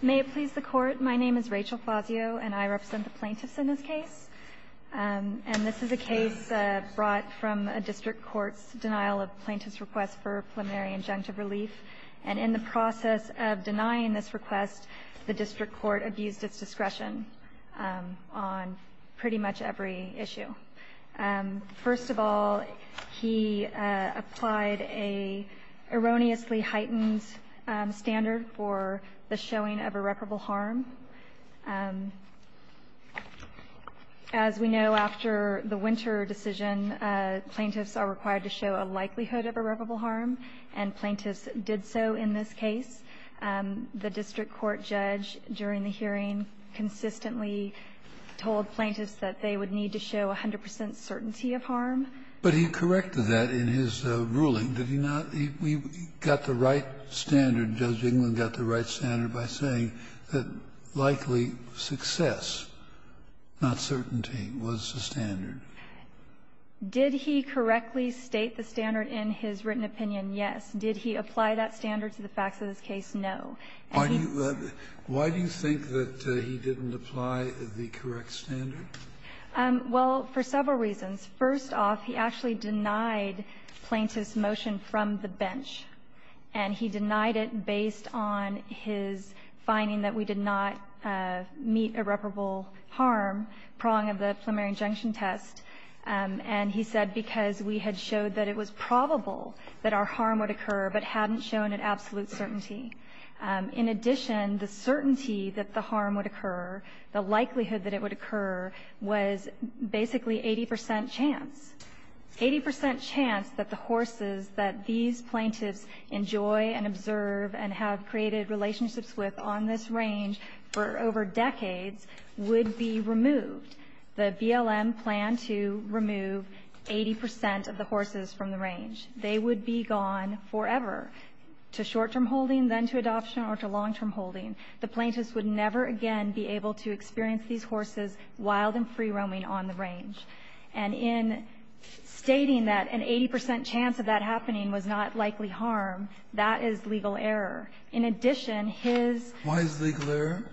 May it please the Court, my name is Rachel Fazio, and I represent the plaintiffs in this case. And this is a case brought from a district court's denial of plaintiff's request for preliminary injunctive relief. And in the process of denying this request, the district court abused its discretion on pretty much every issue. First of all, he applied an erroneously heightened standard for the showing of irreparable harm. As we know, after the Winter decision, plaintiffs are required to show a likelihood of irreparable harm, and plaintiffs did so in this case. The district court judge during the hearing consistently told plaintiffs that they would need to show 100 percent certainty of harm. But he corrected that in his ruling, did he not? He got the right standard, Judge Englund got the right standard by saying that likely success, not certainty, was the standard. Did he correctly state the standard in his written opinion? Yes. Did he apply that standard to the facts of this case? No. And he's the one who's going to be the judge. Scalia, why do you think that he didn't apply the correct standard? Well, for several reasons. First off, he actually denied plaintiff's motion from the bench, and he denied it based on his finding that we did not meet irreparable harm, prong of the preliminary injunction test. And he said because we had showed that it was probable that our harm would occur, but hadn't shown an absolute certainty. In addition, the certainty that the harm would occur, the likelihood that it would occur, was basically 80 percent chance. Eighty percent chance that the horses that these plaintiffs enjoy and observe and have created relationships with on this range for over decades would be removed. The BLM planned to remove 80 percent of the horses from the range. They would be gone forever, to short-term holding, then to adoption, or to long-term holding. The plaintiffs would never again be able to experience these horses wild and free-roaming on the range. And in stating that an 80 percent chance of that happening was not likely harm, that is legal error. In addition, his ---- Why is it legal error?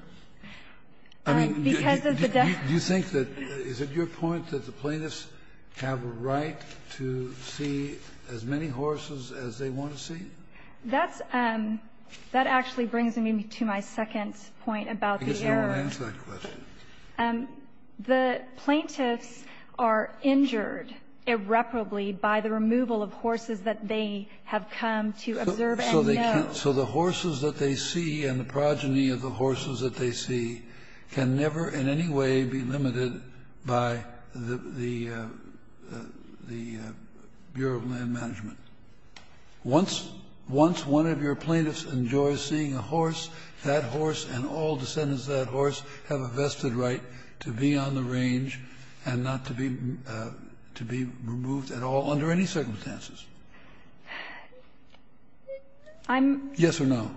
I mean, do you think that ---- Because of the death ---- Is it your point that the plaintiffs have a right to see as many horses as they want to see? That's ---- that actually brings me to my second point about the error. Because you don't answer that question. The plaintiffs are injured irreparably by the removal of horses that they have come to observe and know. So they can't ---- so the horses that they see and the progeny of the horses that they see can never in any way be limited by the Bureau of Land Management. Once one of your plaintiffs enjoys seeing a horse, that horse and all descendants of that horse have a vested right to be on the range and not to be removed at all under any circumstances. I'm ---- Yes or no?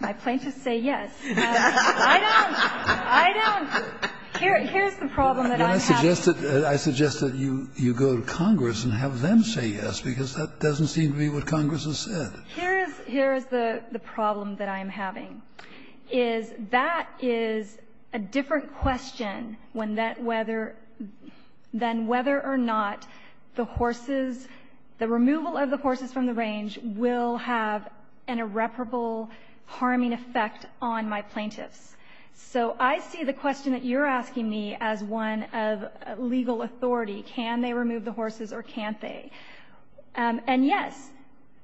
I plaintiffs say yes. I don't ---- I don't ---- Here's the problem that I'm having. I suggest that you go to Congress and have them say yes, because that doesn't seem to be what Congress has said. Here's the problem that I'm having, is that is a different question when that whether or not the horses, the removal of the horses from the range will have an irreparable harming effect on my plaintiffs. So I see the question that you're asking me as one of legal authority. Can they remove the horses or can't they? And yes,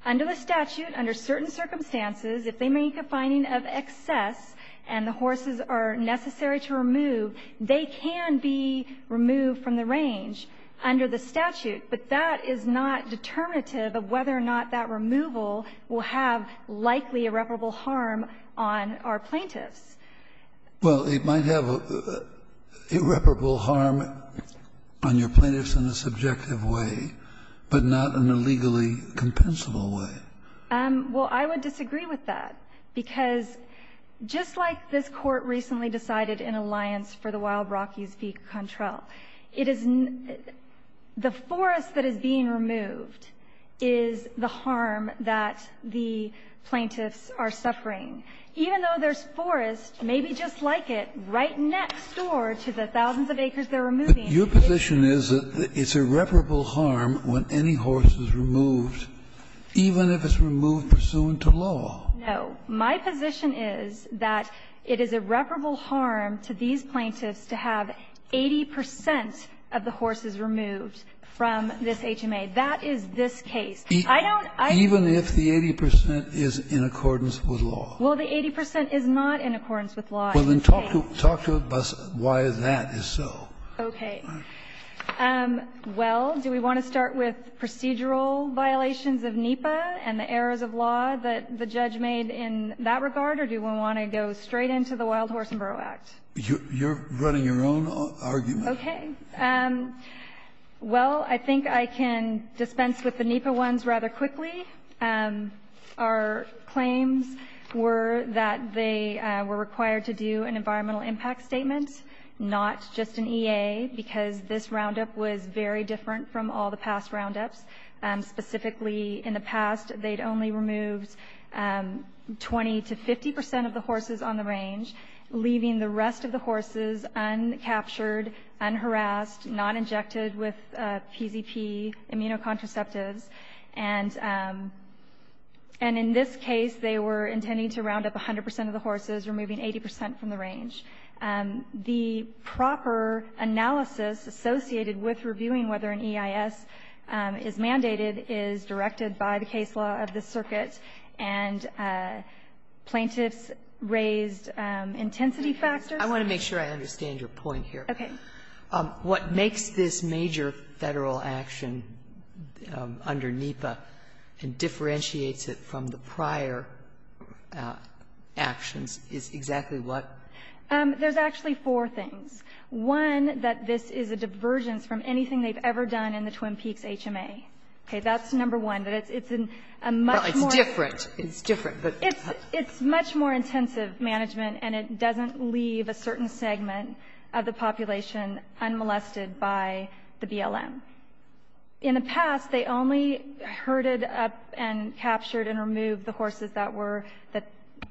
under the statute, under certain circumstances, if they make a finding of excess and the horses are necessary to remove, they can be removed from the range under the statute. But that is not determinative of whether or not that removal will have likely irreparable harm on our plaintiffs. Well, it might have irreparable harm on your plaintiffs in a subjective way, but not in a legally compensable way. Well, I would disagree with that, because just like this Court recently decided in an alliance for the Wild Rockies v. Contrell, it is the forest that is being removed is the harm that the plaintiffs are suffering. Even though there's forest, maybe just like it, right next door to the thousands of acres they're removing. Your position is that it's irreparable harm when any horse is removed, even if it's removed pursuant to law. No. My position is that it is irreparable harm to these plaintiffs to have 80 percent of the horses removed from this HMA. That is this case. I don't think I can agree with that. Even if the 80 percent is in accordance with law? Well, the 80 percent is not in accordance with law. Well, then talk to us why that is so. Okay. Well, do we want to start with procedural violations of NEPA and the errors of law that the judge made in that regard, or do we want to go straight into the Wild Horse and Burrow Act? You're running your own argument. Okay. Well, I think I can dispense with the NEPA ones rather quickly. Our claims were that they were required to do an environmental impact statement, not just an EA, because this roundup was very different from all the past roundups. Specifically, in the past, they'd only removed 20 to 50 percent of the horses on the range, leaving the rest of the horses uncaptured, unharassed, not injected with PZP, immunocontraceptives. And in this case, they were intending to round up 100 percent of the horses, removing 80 percent from the range. The proper analysis associated with reviewing whether an EIS is mandated is directed by the case law of the circuit, and plaintiffs raised intensity factors. I want to make sure I understand your point here. Okay. What makes this major Federal action under NEPA and differentiates it from the prior actions is exactly what? There's actually four things. One, that this is a divergence from anything they've ever done in the Twin Peaks HMA. Okay. That's number one. But it's a much more It's different. It's different. It's much more intensive management, and it doesn't leave a certain segment of the population unmolested by the BLM. In the past, they only herded up and captured and removed the horses that were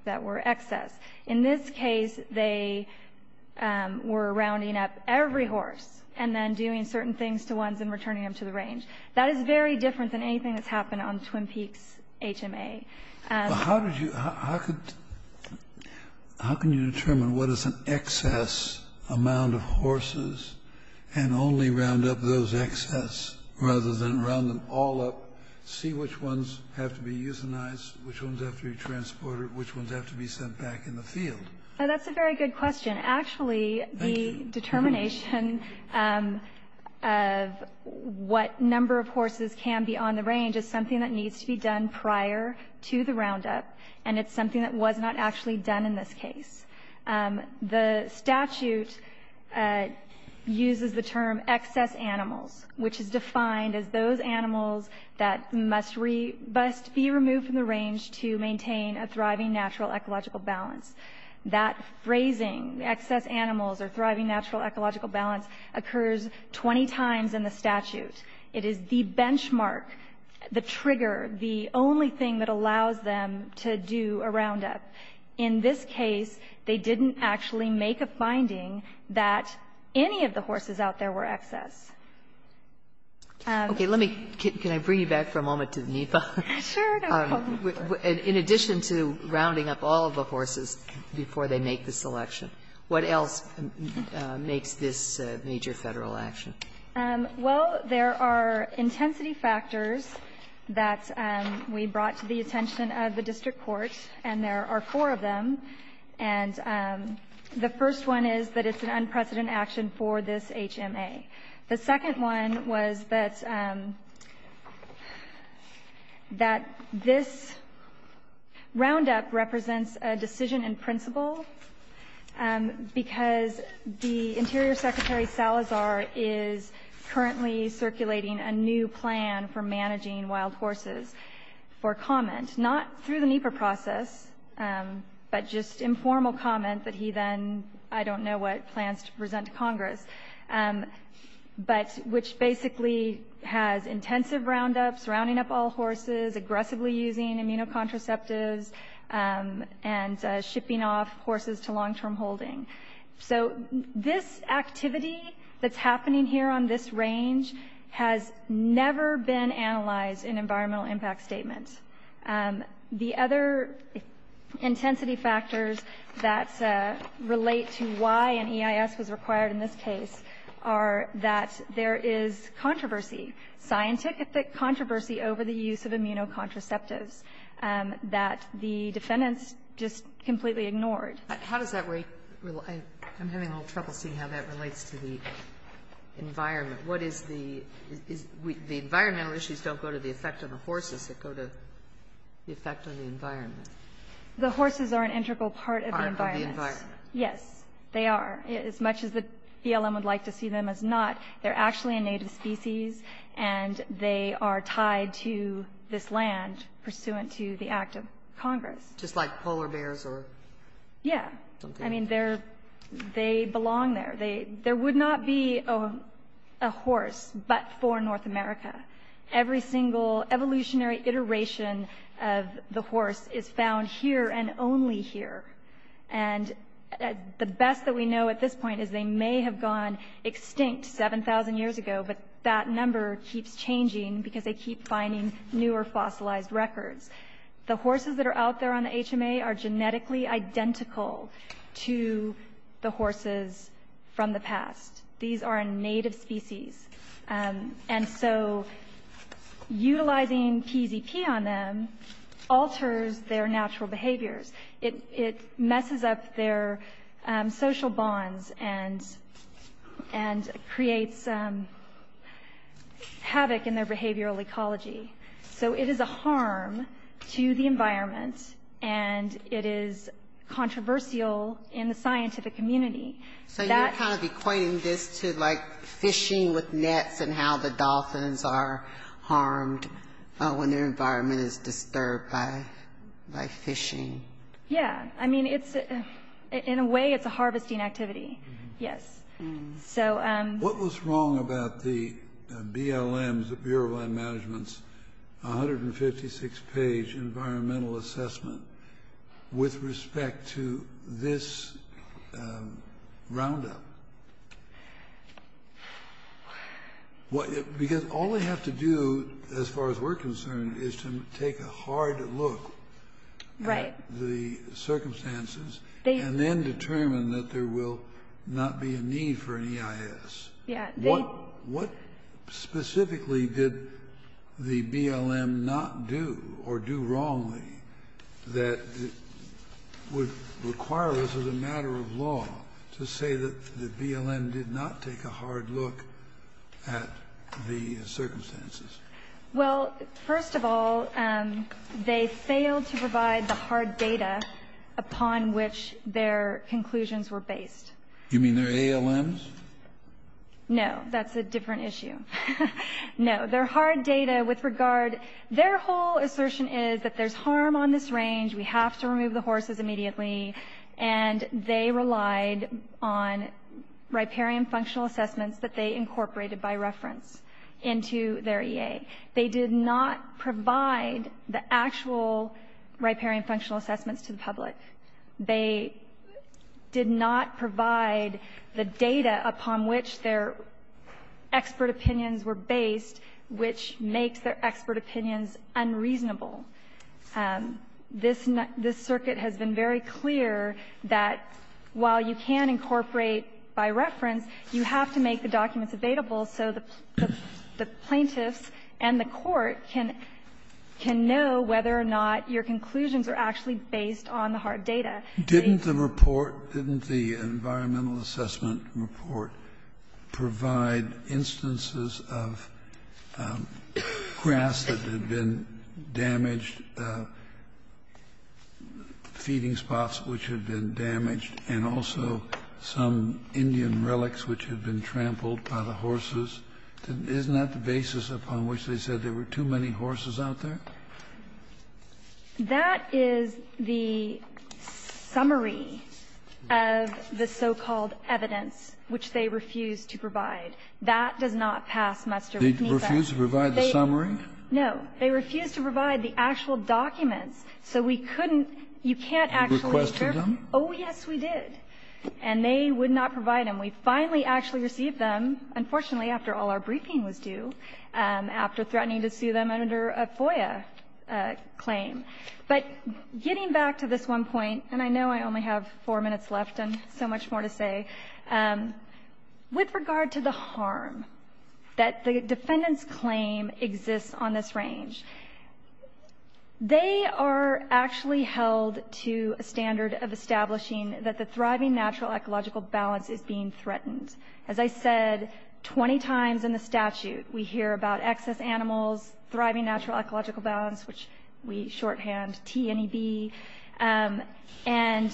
excess. In this case, they were rounding up every horse and then doing certain things to ones and returning them to the range. That is very different than anything that's happened on Twin Peaks HMA. How did you How could How can you determine what is an excess amount of horses and only round up those excess, rather than round them all up, see which ones have to be euthanized, which ones have to be transported, which ones have to be sent back in the field? That's a very good question. Actually, the determination of what number of horses can be on the range is something that needs to be done prior to the roundup, and it's something that was not actually done in this case. The statute uses the term excess animals, which is defined as those animals that must be removed from the range to maintain a thriving natural ecological balance. That phrasing, excess animals or thriving natural ecological balance, occurs 20 times in the statute. It is the benchmark, the trigger, the only thing that allows them to do a roundup. In this case, they didn't actually make a finding that any of the horses out there were excess. Sotomayor, can I bring you back for a moment to the NEPA? Sure. In addition to rounding up all of the horses before they make the selection, what else makes this a major Federal action? Well, there are intensity factors that we brought to the attention of the district court, and there are four of them. And the first one is that it's an unprecedented action for this HMA. The second one was that this roundup represents a decision in principle, because the Interior Secretary Salazar is currently circulating a new plan for managing wild horses for comment, not through the NEPA process, but just informal comment that he then, I don't know what, plans to present to Congress. But which basically has intensive roundups, rounding up all horses, aggressively using immunocontraceptives, and shipping off horses to long-term holding. So this activity that's happening here on this range has never been analyzed in environmental impact statements. The other intensity factors that relate to why an EIS was required in this case are that there is controversy, scientific controversy over the use of immunocontraceptives that the defendants just completely ignored. How does that relate? I'm having a little trouble seeing how that relates to the environment. What is the – the environmental issues don't go to the effect of the horses. They go to the effect of the environment. The horses are an integral part of the environment. Yes, they are. As much as the BLM would like to see them as not, they're actually a native species, and they are tied to this land pursuant to the act of Congress. Just like polar bears or something? Yeah. I mean, they belong there. There would not be a horse but for North America. Every single evolutionary iteration of the horse is found here and only here. And the best that we know at this point is they may have gone extinct 7,000 years ago, but that number keeps changing because they keep finding newer fossilized records. The horses that are out there on the HMA are genetically identical to the horses from the past. These are a native species. And so utilizing PZP on them alters their natural behaviors. It messes up their social bonds and creates havoc in their behavioral ecology. So it is a harm to the environment, and it is controversial in the scientific community. So you're kind of equating this to, like, fishing with nets and how the dolphins are harmed when their environment is disturbed by fishing. Yeah. I mean, in a way, it's a harvesting activity. Yes. What was wrong about the BLM's, the Bureau of Land Management's, 156-page environmental assessment with respect to this roundup? Because all they have to do, as far as we're concerned, is to take a hard look at the circumstances and then determine that there will not be a need for an EIS. Yeah. What specifically did the BLM not do or do wrongly that would require us, as a matter of law, to say that the BLM did not take a hard look at the circumstances? Well, first of all, they failed to provide the hard data upon which their conclusions were based. You mean their ALMs? No. That's a different issue. No. Their hard data with regard—their whole assertion is that there's harm on this range, we have to remove the horses immediately, and they relied on riparian functional assessments that they incorporated by reference into their EA. They did not provide the actual riparian functional assessments to the public. They did not provide the data upon which their expert opinions were based, which makes their expert opinions unreasonable. This circuit has been very clear that while you can incorporate by reference, you have to make the documents available so the plaintiffs and the court can know whether or not your conclusions are actually based on the hard data. Didn't the report, didn't the environmental assessment report provide instances of grass that had been damaged, feeding spots which had been damaged, and also some Indian relics which had been trampled by the horses? Isn't that the basis upon which they said there were too many horses out there? That is the summary of the so-called evidence which they refused to provide. That does not pass muster with NISA. They refused to provide the summary? No. They refused to provide the actual documents, so we couldn't – you can't actually serve them. You requested them? Oh, yes, we did. And they would not provide them. We finally actually received them, unfortunately, after all our briefing was due, after threatening to sue them under a FOIA claim. But getting back to this one point, and I know I only have four minutes left and so much more to say, with regard to the harm that the defendant's claim exists on this range, they are actually held to a standard of establishing that the thriving natural ecological balance is being threatened. As I said 20 times in the statute, we hear about excess animals, thriving natural ecological balance, which we shorthand T-N-E-B, and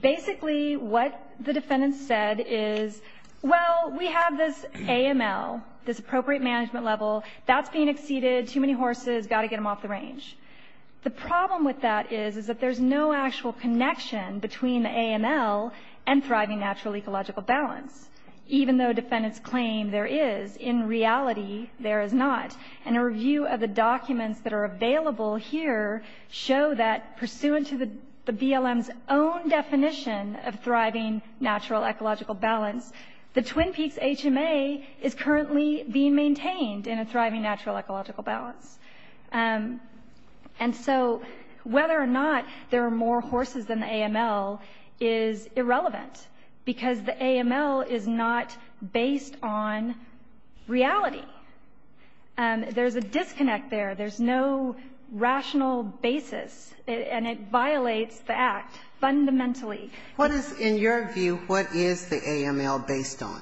basically what the defendant said is, well, we have this AML, this appropriate management level, that's being exceeded, too many horses, got to get them off the range. The problem with that is, is that there's no actual connection between the AML and thriving natural ecological balance, even though defendants claim there is. In reality, there is not. And a review of the documents that are available here show that pursuant to the BLM's own definition of thriving natural ecological balance, the Twin Peaks HMA is currently being maintained in a thriving natural ecological balance. And so whether or not there are more horses than the AML is irrelevant, because the AML is not based on reality. There's a disconnect there. There's no rational basis, and it violates the Act fundamentally. What is, in your view, what is the AML based on?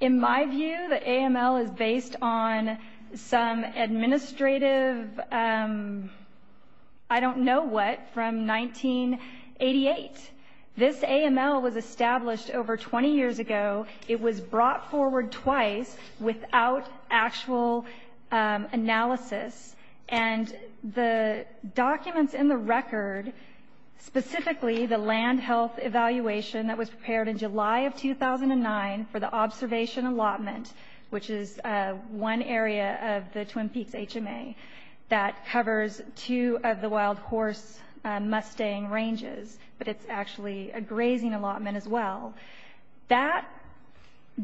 In my view, the AML is based on some administrative, I don't know what, from 1988. This AML was established over 20 years ago. It was brought forward twice without actual analysis. And the documents in the record, specifically the land health evaluation that was prepared in July of 2009 for the observation allotment, which is one area of the Twin Peaks HMA that covers two of the wild horse mustang ranges, but it's actually a grazing allotment as well. That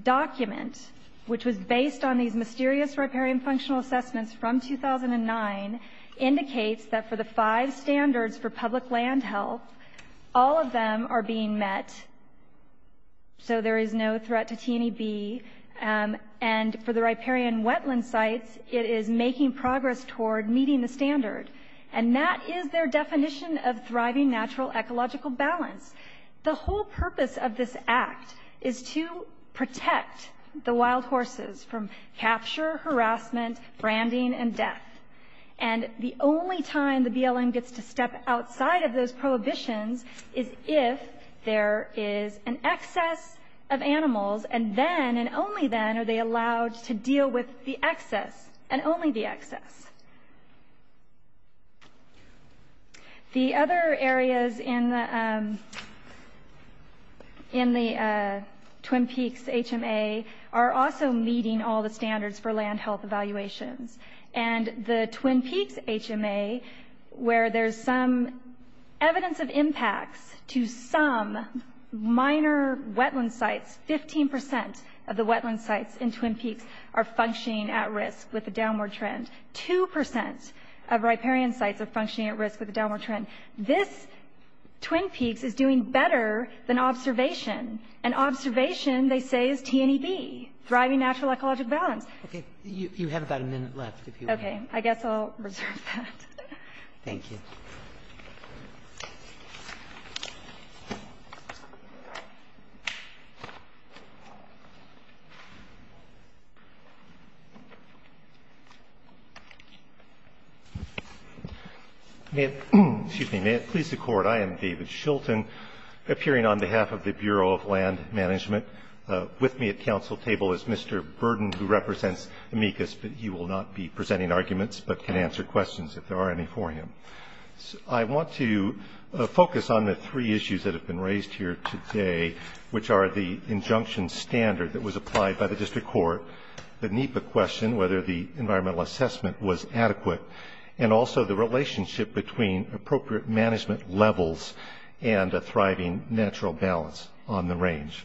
document, which was based on these mysterious riparian functional assessments from 2009, indicates that for the five standards for public land health, all of them are being met. So there is no threat to T&EB. And for the riparian wetland sites, it is making progress toward meeting the standard. And that is their definition of thriving natural ecological balance. The whole purpose of this Act is to protect the wild horses from capture, harassment, branding, and death. And the only time the BLM gets to step outside of those prohibitions is if there is an excess of animals. And then, and only then, are they allowed to deal with the excess, and only the excess. The other areas in the Twin Peaks HMA are also meeting all the standards for land health evaluations. And the Twin Peaks HMA, where there's some evidence of impacts to some minor wetland sites, 15% of the wetland sites in Twin Peaks are functioning at risk with a downward trend. 2% of riparian sites are functioning at risk with a downward trend. This Twin Peaks is doing better than observation. And observation, they say, is T&EB, thriving natural ecological balance. OK, you have about a minute left, if you will. OK, I guess I'll reserve that. Thank you. May it please the Court. I am David Shilton, appearing on behalf of the Bureau of Land Management. With me at council table is Mr. Burden, who represents amicus, but he will not be presenting arguments, but can answer questions if there are any for him. I want to focus on the three issues that have been raised here today, which are the injunction standard that was applied by the district court, the NEPA question, whether the environmental assessment was adequate, and also the relationship between appropriate management levels and a thriving natural balance on the range.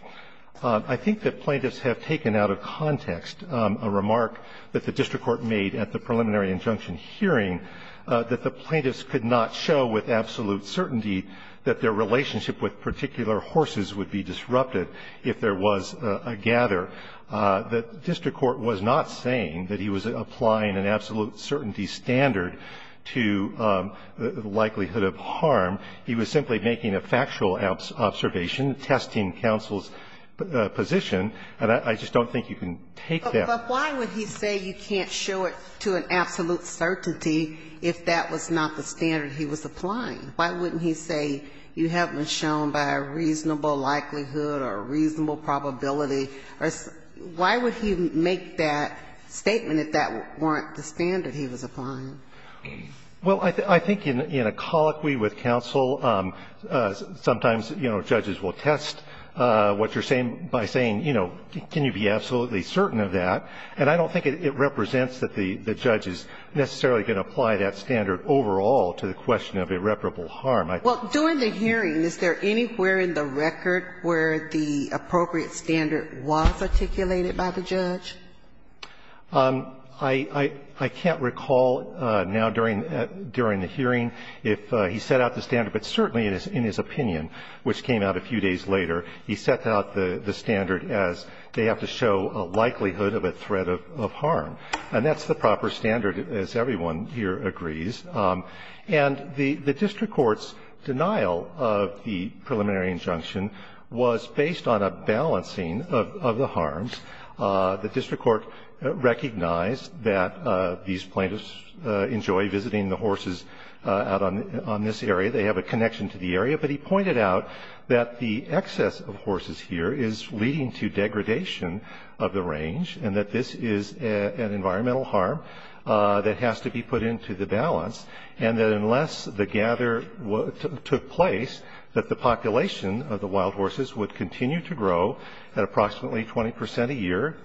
I think that plaintiffs have taken out of context a remark that the district court made at the preliminary injunction hearing, that the plaintiffs could not show with absolute certainty that their relationship with particular horses would be disrupted if there was a gather. The district court was not saying that he was applying an absolute certainty standard to the likelihood of harm. He was simply making a factual observation, testing counsel's position. And I just don't think you can take that. But why would he say you can't show it to an absolute certainty if that was not the standard he was applying? Why wouldn't he say you haven't been shown by a reasonable likelihood or a reasonable probability, or why would he make that statement if that weren't the standard he was applying? Well, I think in a colloquy with counsel, sometimes, you know, judges will test what you're saying by saying, you know, can you be absolutely certain of that? And I don't think it represents that the judge is necessarily going to apply that standard overall to the question of irreparable harm. Well, during the hearing, is there anywhere in the record where the appropriate standard was articulated by the judge? I can't recall now during the hearing if he set out the standard, but certainly in his opinion, which came out a few days later, he set out the standard as they have to show a likelihood of a threat of harm. And that's the proper standard, as everyone here agrees. And the district court's denial of the preliminary injunction was based on a balancing of the harms. The district court recognized that these plaintiffs enjoy visiting the horses out on this area. They have a connection to the area. But he pointed out that the excess of horses here is leading to degradation of the range, and that this is an environmental harm that has to be put into the balance, and that unless the gather took place, that the population of the wild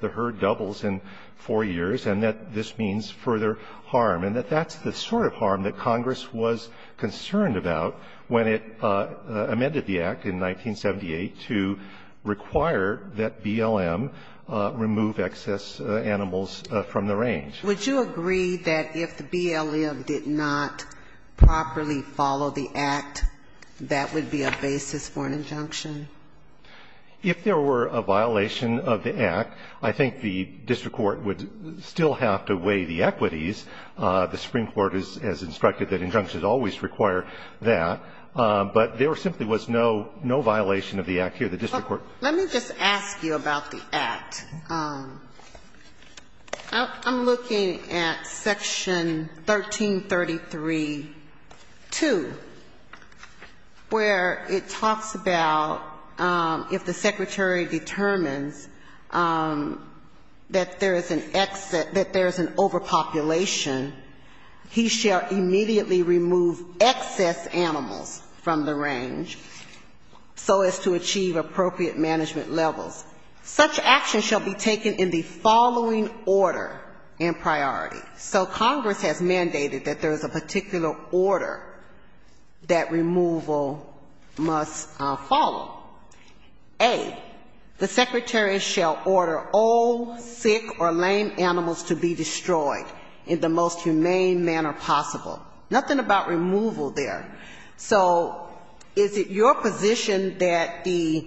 the herd doubles in four years, and that this means further harm. And that that's the sort of harm that Congress was concerned about when it amended the Act in 1978 to require that BLM remove excess animals from the range. Would you agree that if the BLM did not properly follow the Act, that would be a basis for an injunction? If there were a violation of the Act, I think the district court would still have to weigh the equities. The Supreme Court has instructed that injunctions always require that. But there simply was no violation of the Act here. The district court Let me just ask you about the Act. I'm looking at Section 1333.2, where it talks about if the secretary determines that there is an overpopulation, he shall immediately remove excess animals from the range, so as to achieve appropriate management levels. Such action shall be taken in the following order and priority. So Congress has mandated that there is a particular order that removal must follow. A, the secretary shall order all sick or lame animals to be destroyed in the most humane manner possible. Nothing about removal there. So is it your position that the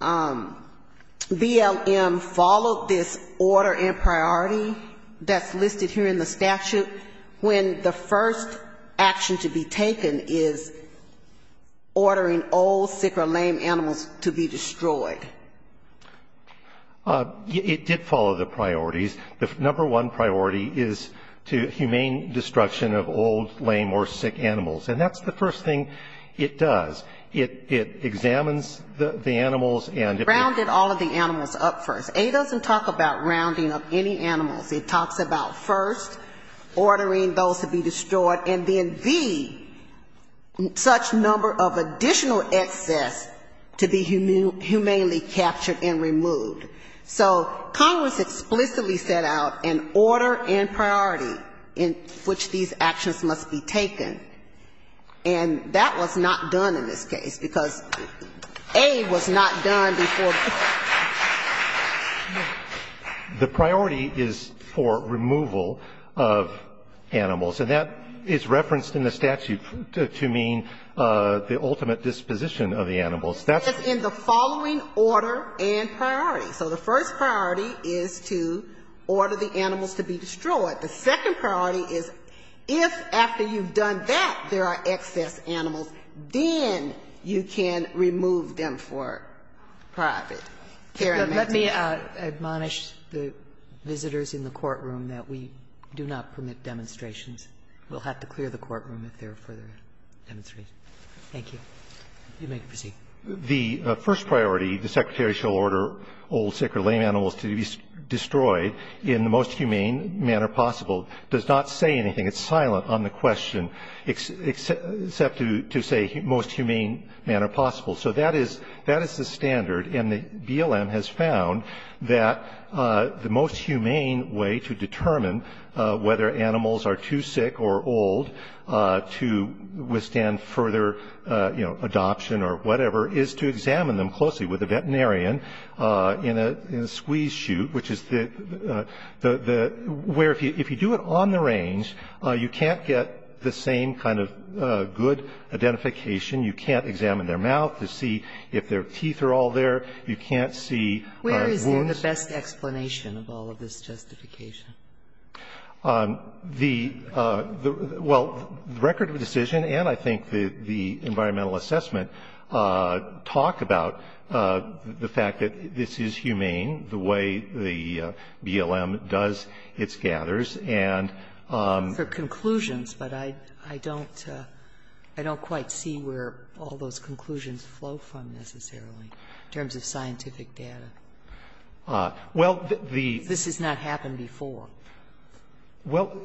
BLM followed this order and priority that's listed here in the statute when the first action to be taken is ordering all sick or lame animals to be destroyed? It did follow the priorities. The number one priority is to humane destruction of all lame or sick animals. And that's the first thing it does. It examines the animals and Rounded all of the animals up first. A doesn't talk about rounding up any animals. It talks about first ordering those to be destroyed and then B, such number of additional excess to be humanely captured and removed. So Congress explicitly set out an order and priority in which these actions must be taken. And that was not done in this case because A was not done before. The priority is for removal of animals. And that is referenced in the statute to mean the ultimate disposition of the animals. That's in the following order and priority. So the first priority is to order the animals to be destroyed. The second priority is if after you've done that there are excess animals, then you can remove them for private care and maintenance. Sotomayor, let me admonish the visitors in the courtroom that we do not permit demonstrations. We'll have to clear the courtroom if there are further demonstrations. Thank you. You may proceed. The first priority, the Secretary shall order old, sick or lame animals to be destroyed in the most humane manner possible. It does not say anything. It's silent on the question except to say most humane manner possible. So that is the standard. And the BLM has found that the most humane way to determine whether animals are too sick or old to withstand further, you know, adoption or whatever is to examine them closely with the, where if you do it on the range, you can't get the same kind of good identification. You can't examine their mouth to see if their teeth are all there. You can't see woods. Where is then the best explanation of all of this justification? The, well, the record of decision and I think the environmental assessment talk about the fact that this is humane, the way the BLM does its gathers and. For conclusions, but I don't, I don't quite see where all those conclusions flow from necessarily in terms of scientific data. Well, the. This has not happened before. Well,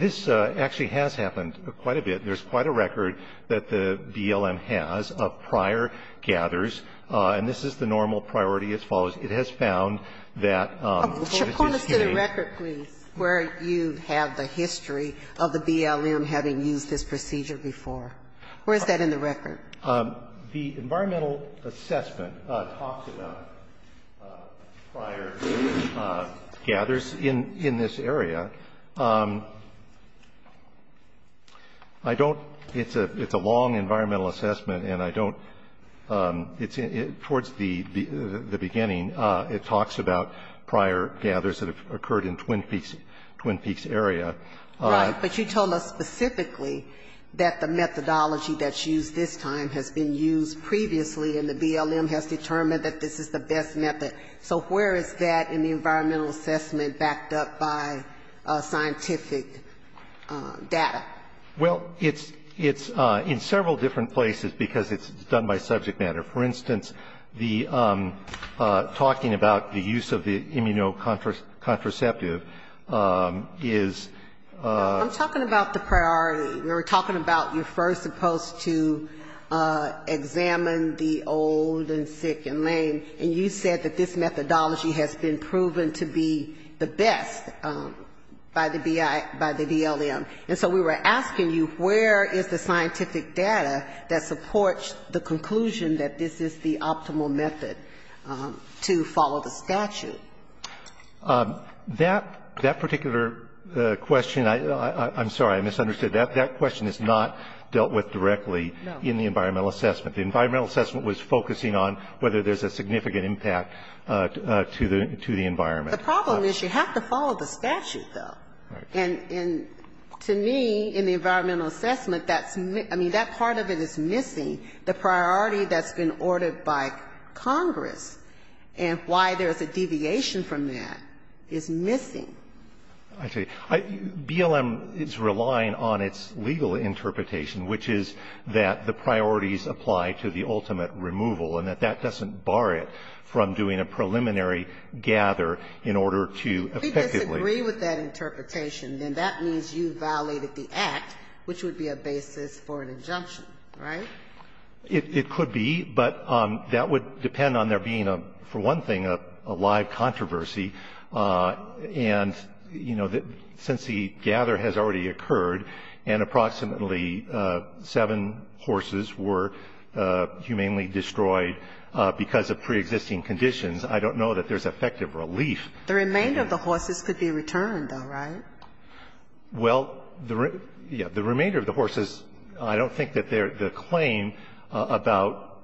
this actually has happened quite a bit. There's quite a record that the BLM has of prior gathers. And this is the normal priority as follows. It has found that. Can you point us to the record, please, where you have the history of the BLM having used this procedure before? Where is that in the record? The environmental assessment talks about prior gathers in this area. I don't. It's a long environmental assessment and I don't. Towards the beginning, it talks about prior gathers that have occurred in Twin Peaks, Twin Peaks area. Right. But you told us specifically that the methodology that's used this time has been used previously and the BLM has determined that this is the best method. So where is that in the environmental assessment backed up by scientific data? Well, it's in several different places because it's done by subject matter. For instance, the talking about the use of the immunocontraceptive is. I'm talking about the priority. We were talking about you're first supposed to examine the old and sick and lame. And you said that this methodology has been proven to be the best by the BLM. And so we were asking you where is the scientific data that supports the conclusion that this is the optimal method to follow the statute? That particular question, I'm sorry, I misunderstood. That question is not dealt with directly in the environmental assessment. The environmental assessment was focusing on whether there's a significant impact to the environment. The problem is you have to follow the statute, though. Right. And to me, in the environmental assessment, that's, I mean, that part of it is missing. The priority that's been ordered by Congress and why there's a deviation from that is missing. I tell you, BLM is relying on its legal interpretation, which is that the priorities apply to the ultimate removal and that that doesn't bar it from doing a preliminary gather in order to effectively. If we disagree with that interpretation, then that means you violated the Act, which would be a basis for an injunction. Right? It could be. But that would depend on there being, for one thing, a live controversy. And, you know, since the gather has already occurred and approximately seven horses were humanely destroyed because of preexisting conditions, I don't know that there's effective relief. The remainder of the horses could be returned, though, right? Well, the remainder of the horses, I don't think that the claim about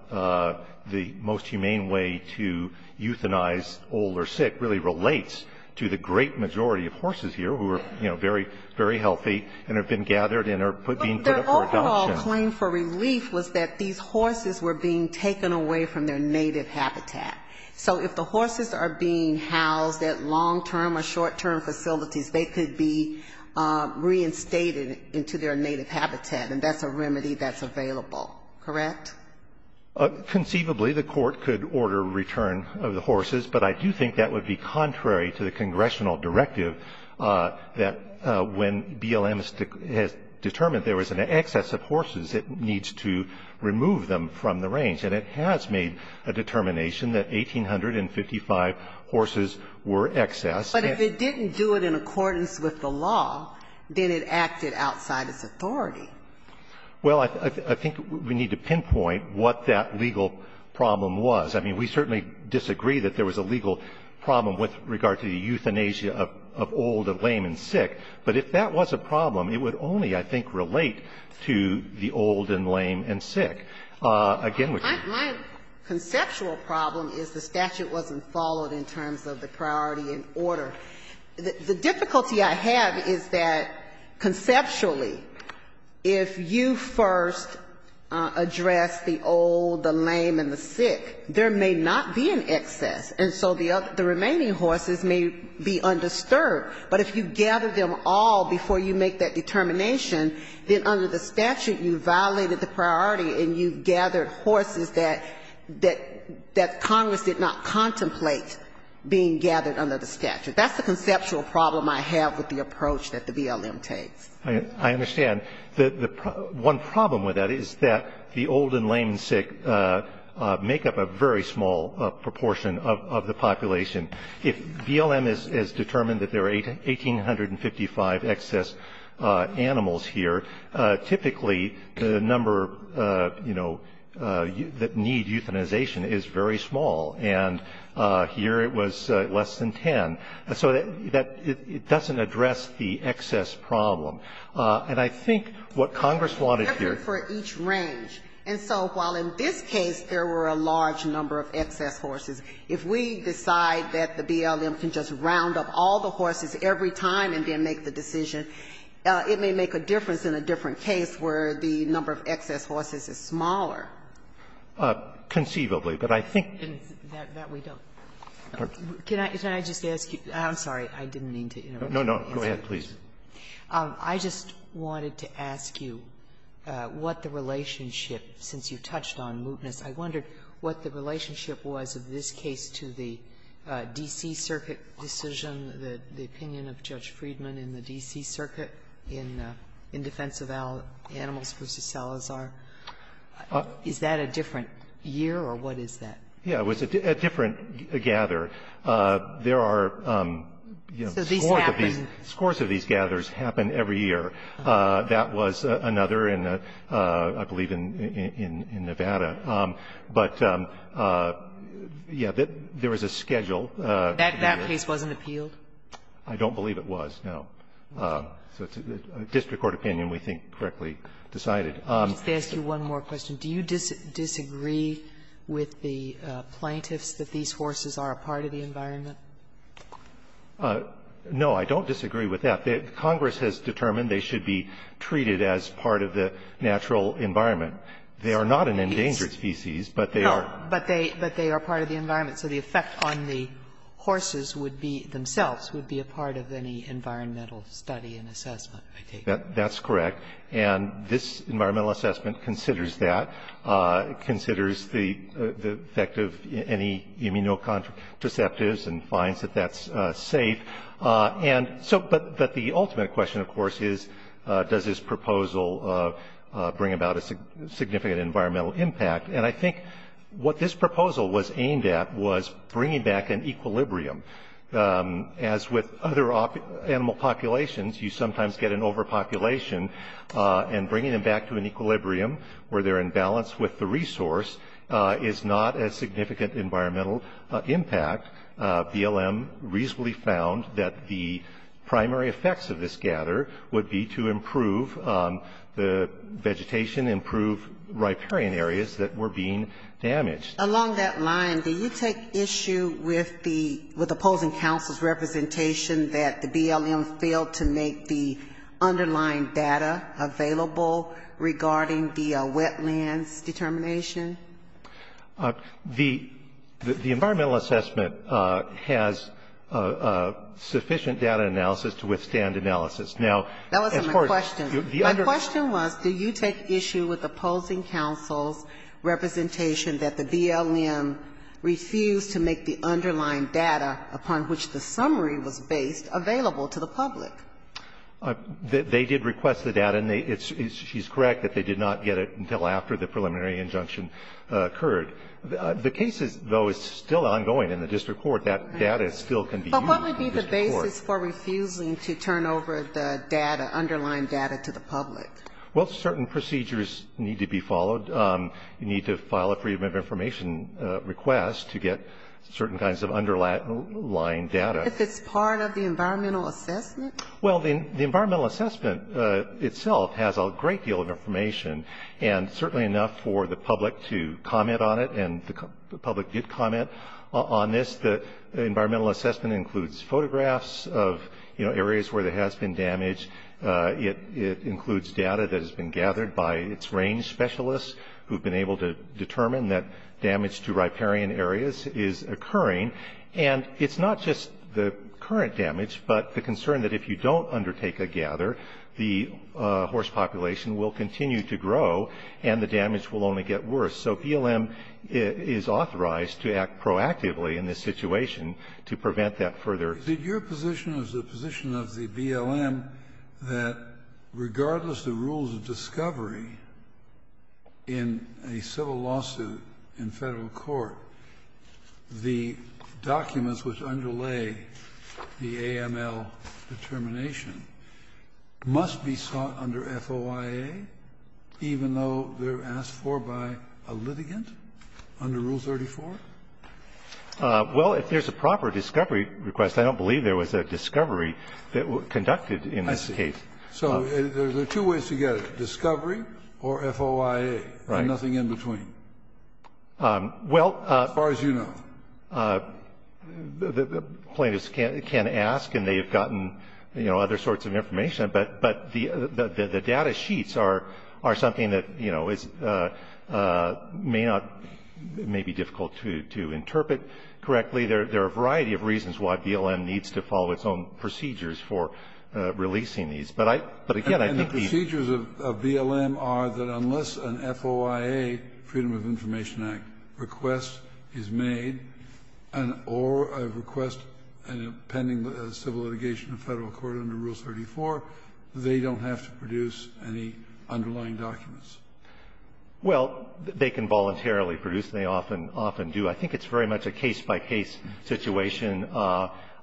the most humane way to euthanize old or sick really relates to the great majority of horses here who are, you know, very, very healthy and have been gathered and are being put up for adoption. But their overall claim for relief was that these horses were being taken away from their native habitat. So if the horses are being housed at long-term or short-term facilities, they could be reinstated into their native habitat, and that's a remedy that's available. Correct? Conceivably, the Court could order return of the horses, but I do think that would be contrary to the congressional directive that when BLM has determined there was an excess of horses, it needs to remove them from the range. And it has made a determination that 1,855 horses were excess. But if it didn't do it in accordance with the law, then it acted outside its authority. Well, I think we need to pinpoint what that legal problem was. I mean, we certainly disagree that there was a legal problem with regard to the euthanasia of old and lame and sick, but if that was a problem, it would only, I think, relate to the old and lame and sick. Again, we can't do that. My conceptual problem is the statute wasn't followed in terms of the priority and order. The difficulty I have is that conceptually, if you first address the old, the lame and the sick, there may not be an excess, and so the remaining horses may be undisturbed. But if you gather them all before you make that determination, then under the statute you violated the priority and you gathered horses that Congress did not contemplate being gathered under the statute. That's the conceptual problem I have with the approach that the BLM takes. I understand. The one problem with that is that the old and lame and sick make up a very small proportion of the population. If BLM has determined that there are 1,855 excess animals here, typically the number, you know, that need euthanization is very small. And here it was less than 10. And so that doesn't address the excess problem. And I think what Congress wanted here to do. And so while in this case there were a large number of excess horses, if we decide that the BLM can just round up all the horses every time and then make the decision, it may make a difference in a different case where the number of excess horses is smaller. Conceivably. But I think that we don't. Sotomayor. Can I just ask you? I'm sorry. I didn't mean to interrupt you. No, no. Go ahead, please. I just wanted to ask you what the relationship, since you touched on mootness, I wondered what the relationship was of this case to the D.C. Circuit decision, the opinion of Judge Friedman in the D.C. Circuit in defense of animals v. Salazar. Is that a different year or what is that? Yeah, it was a different gather. There are, you know, scores of these gathers happen every year. That was another in, I believe, in Nevada. But, yeah, there was a schedule. That case wasn't appealed? I don't believe it was, no. So it's a district court opinion we think correctly decided. Let me just ask you one more question. Do you disagree with the plaintiffs that these horses are a part of the environment? No, I don't disagree with that. Congress has determined they should be treated as part of the natural environment. They are not an endangered species, but they are. No, but they are part of the environment. So the effect on the horses would be, themselves, would be a part of any environmental study and assessment, I take it. That's correct. And this environmental assessment considers that, considers the effect of any immunocompromised deceptives and finds that that's safe. But the ultimate question, of course, is does this proposal bring about a significant environmental impact? And I think what this proposal was aimed at was bringing back an equilibrium. As with other animal populations, you sometimes get an overpopulation, and bringing them back to an equilibrium, where they're in balance with the resource, is not a significant environmental impact. BLM reasonably found that the primary effects of this gather would be to improve the vegetation, improve riparian areas that were being damaged. Along that line, do you take issue with the opposing counsel's representation that the BLM failed to make the underlying data available regarding the wetlands determination? The environmental assessment has sufficient data analysis to withstand analysis. Now, of course, the underlying question was, do you take issue with opposing counsel's representation that the BLM refused to make the underlying data, upon which the summary was based, available to the public? They did request the data. And she's correct that they did not get it until after the preliminary injunction occurred. The case, though, is still ongoing in the district court. That data still can be used in the district court. But what would be the basis for refusing to turn over the data, underlying data, to the public? Well, certain procedures need to be followed. You need to file a Freedom of Information request to get certain kinds of underlying data. If it's part of the environmental assessment? Well, the environmental assessment itself has a great deal of information, and certainly enough for the public to comment on it, and the public did comment on this. The environmental assessment includes photographs of, you know, areas where there has been damage. It includes data that has been gathered by its range specialists who have been able to determine that damage to riparian areas is occurring. And it's not just the current damage, but the concern that if you don't undertake a gather, the horse population will continue to grow and the damage will only get worse. So BLM is authorized to act proactively in this situation to prevent that further damage. Did your position as the position of the BLM that regardless of the rules of discovery in a civil lawsuit in Federal court, the documents which underlay the AML determination must be sought under FOIA, even though they're asked for by a litigant under Rule 34? Well, if there's a proper discovery request, I don't believe there was a discovery that was conducted in this case. I see. So there's two ways to get it, discovery or FOIA. Right. And nothing in between. Well. As far as you know. Plaintiffs can ask, and they've gotten, you know, other sorts of information, but the data sheets are something that, you know, may not, may be difficult to interpret correctly. There are a variety of reasons why BLM needs to follow its own procedures for releasing these. But again, I think the. The procedures of BLM are that unless an FOIA, Freedom of Information Act, request is made, or a request pending civil litigation in Federal court under Rule 34, they don't have to produce any underlying documents. Well, they can voluntarily produce. They often do. I think it's very much a case-by-case situation.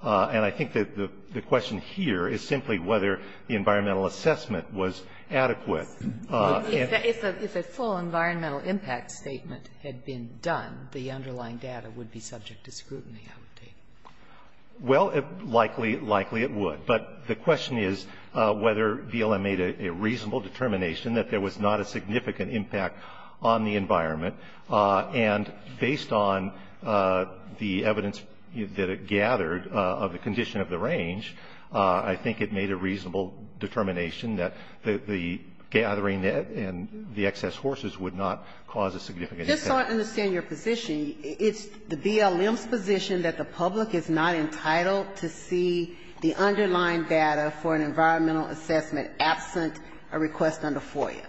And I think that the question here is simply whether the environmental assessment was adequate. If a full environmental impact statement had been done, the underlying data would be subject to scrutiny, I would think. Well, likely, likely it would. But the question is whether BLM made a reasonable determination that there was not a significant impact on the environment. And based on the evidence that it gathered of the condition of the range, I think it made a reasonable determination that the gathering and the excess horses would not cause a significant impact. Just so I understand your position, it's the BLM's position that the public is not entitled to see the underlying data for an environmental assessment absent a request under FOIA?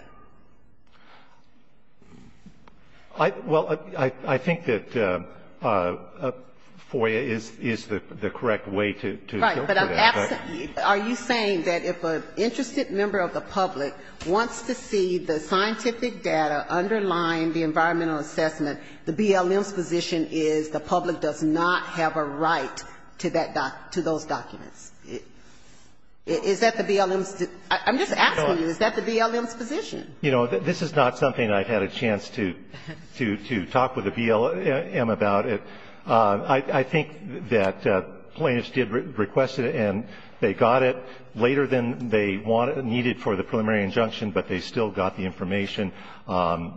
Well, I think that FOIA is the correct way to look at it. Are you saying that if an interested member of the public wants to see the scientific data underlying the environmental assessment, the BLM's position is the public does not have a right to those documents? Is that the BLM's? I'm just asking you, is that the BLM's position? You know, this is not something I've had a chance to talk with the BLM about. I think that Plaintiffs did request it, and they got it later than they needed for the preliminary injunction, but they still got the information. But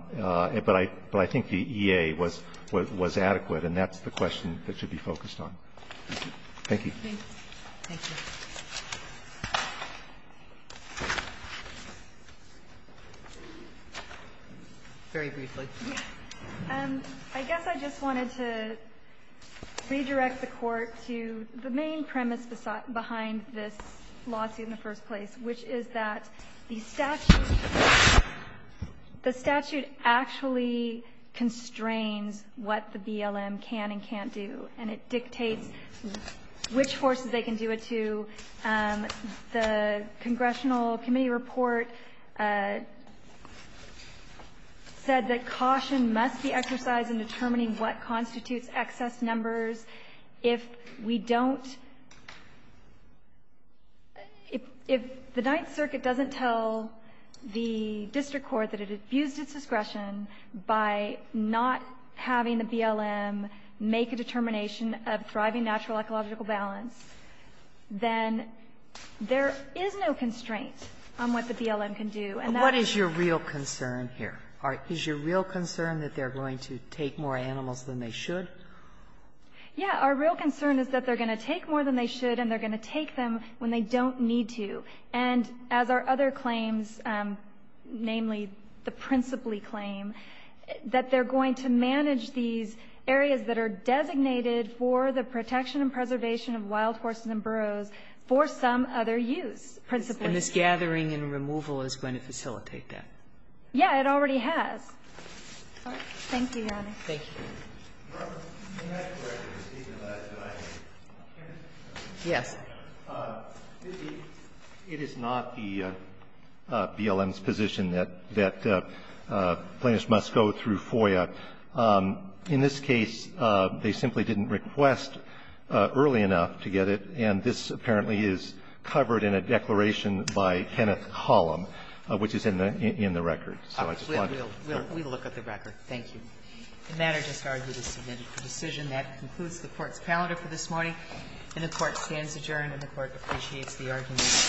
I think the EA was adequate, and that's the question that should be focused on. Thank you. Thank you. Thank you. Very briefly. I guess I just wanted to redirect the Court to the main premise behind this lawsuit in the first place, which is that the statute actually constrains what the BLM can and can't do, and it dictates which forces they can do it to. The Congressional Committee report said that caution must be exercised in determining what constitutes excess numbers. If we don't, if the Ninth Circuit doesn't tell the District Court that it abused its discretion by not having the BLM make a determination of driving natural ecological balance, then there is no constraint on what the BLM can do. What is your real concern here? Is your real concern that they're going to take more animals than they should? Yeah. Our real concern is that they're going to take more than they should, and they're going to take them when they don't need to. And as our other claims, namely the Principally claim, that they're going to manage these areas that are designated for the protection and preservation of wild horses and burros for some other use. Principally. And this gathering and removal is going to facilitate that. It already has. Thank you, Your Honor. Thank you. Robert, may I correct you? Yes. It is not the BLM's position that plaintiffs must go through FOIA. In this case, they simply didn't request early enough to get it, and this apparently is covered in a declaration by Kenneth Hollom, which is in the record. We'll look at the record. Thank you. The matter just argued is submitted for decision. That concludes the Court's calendar for this morning. And the Court stands adjourned. And the Court appreciates the arguments of counsel in the last case. Thank you.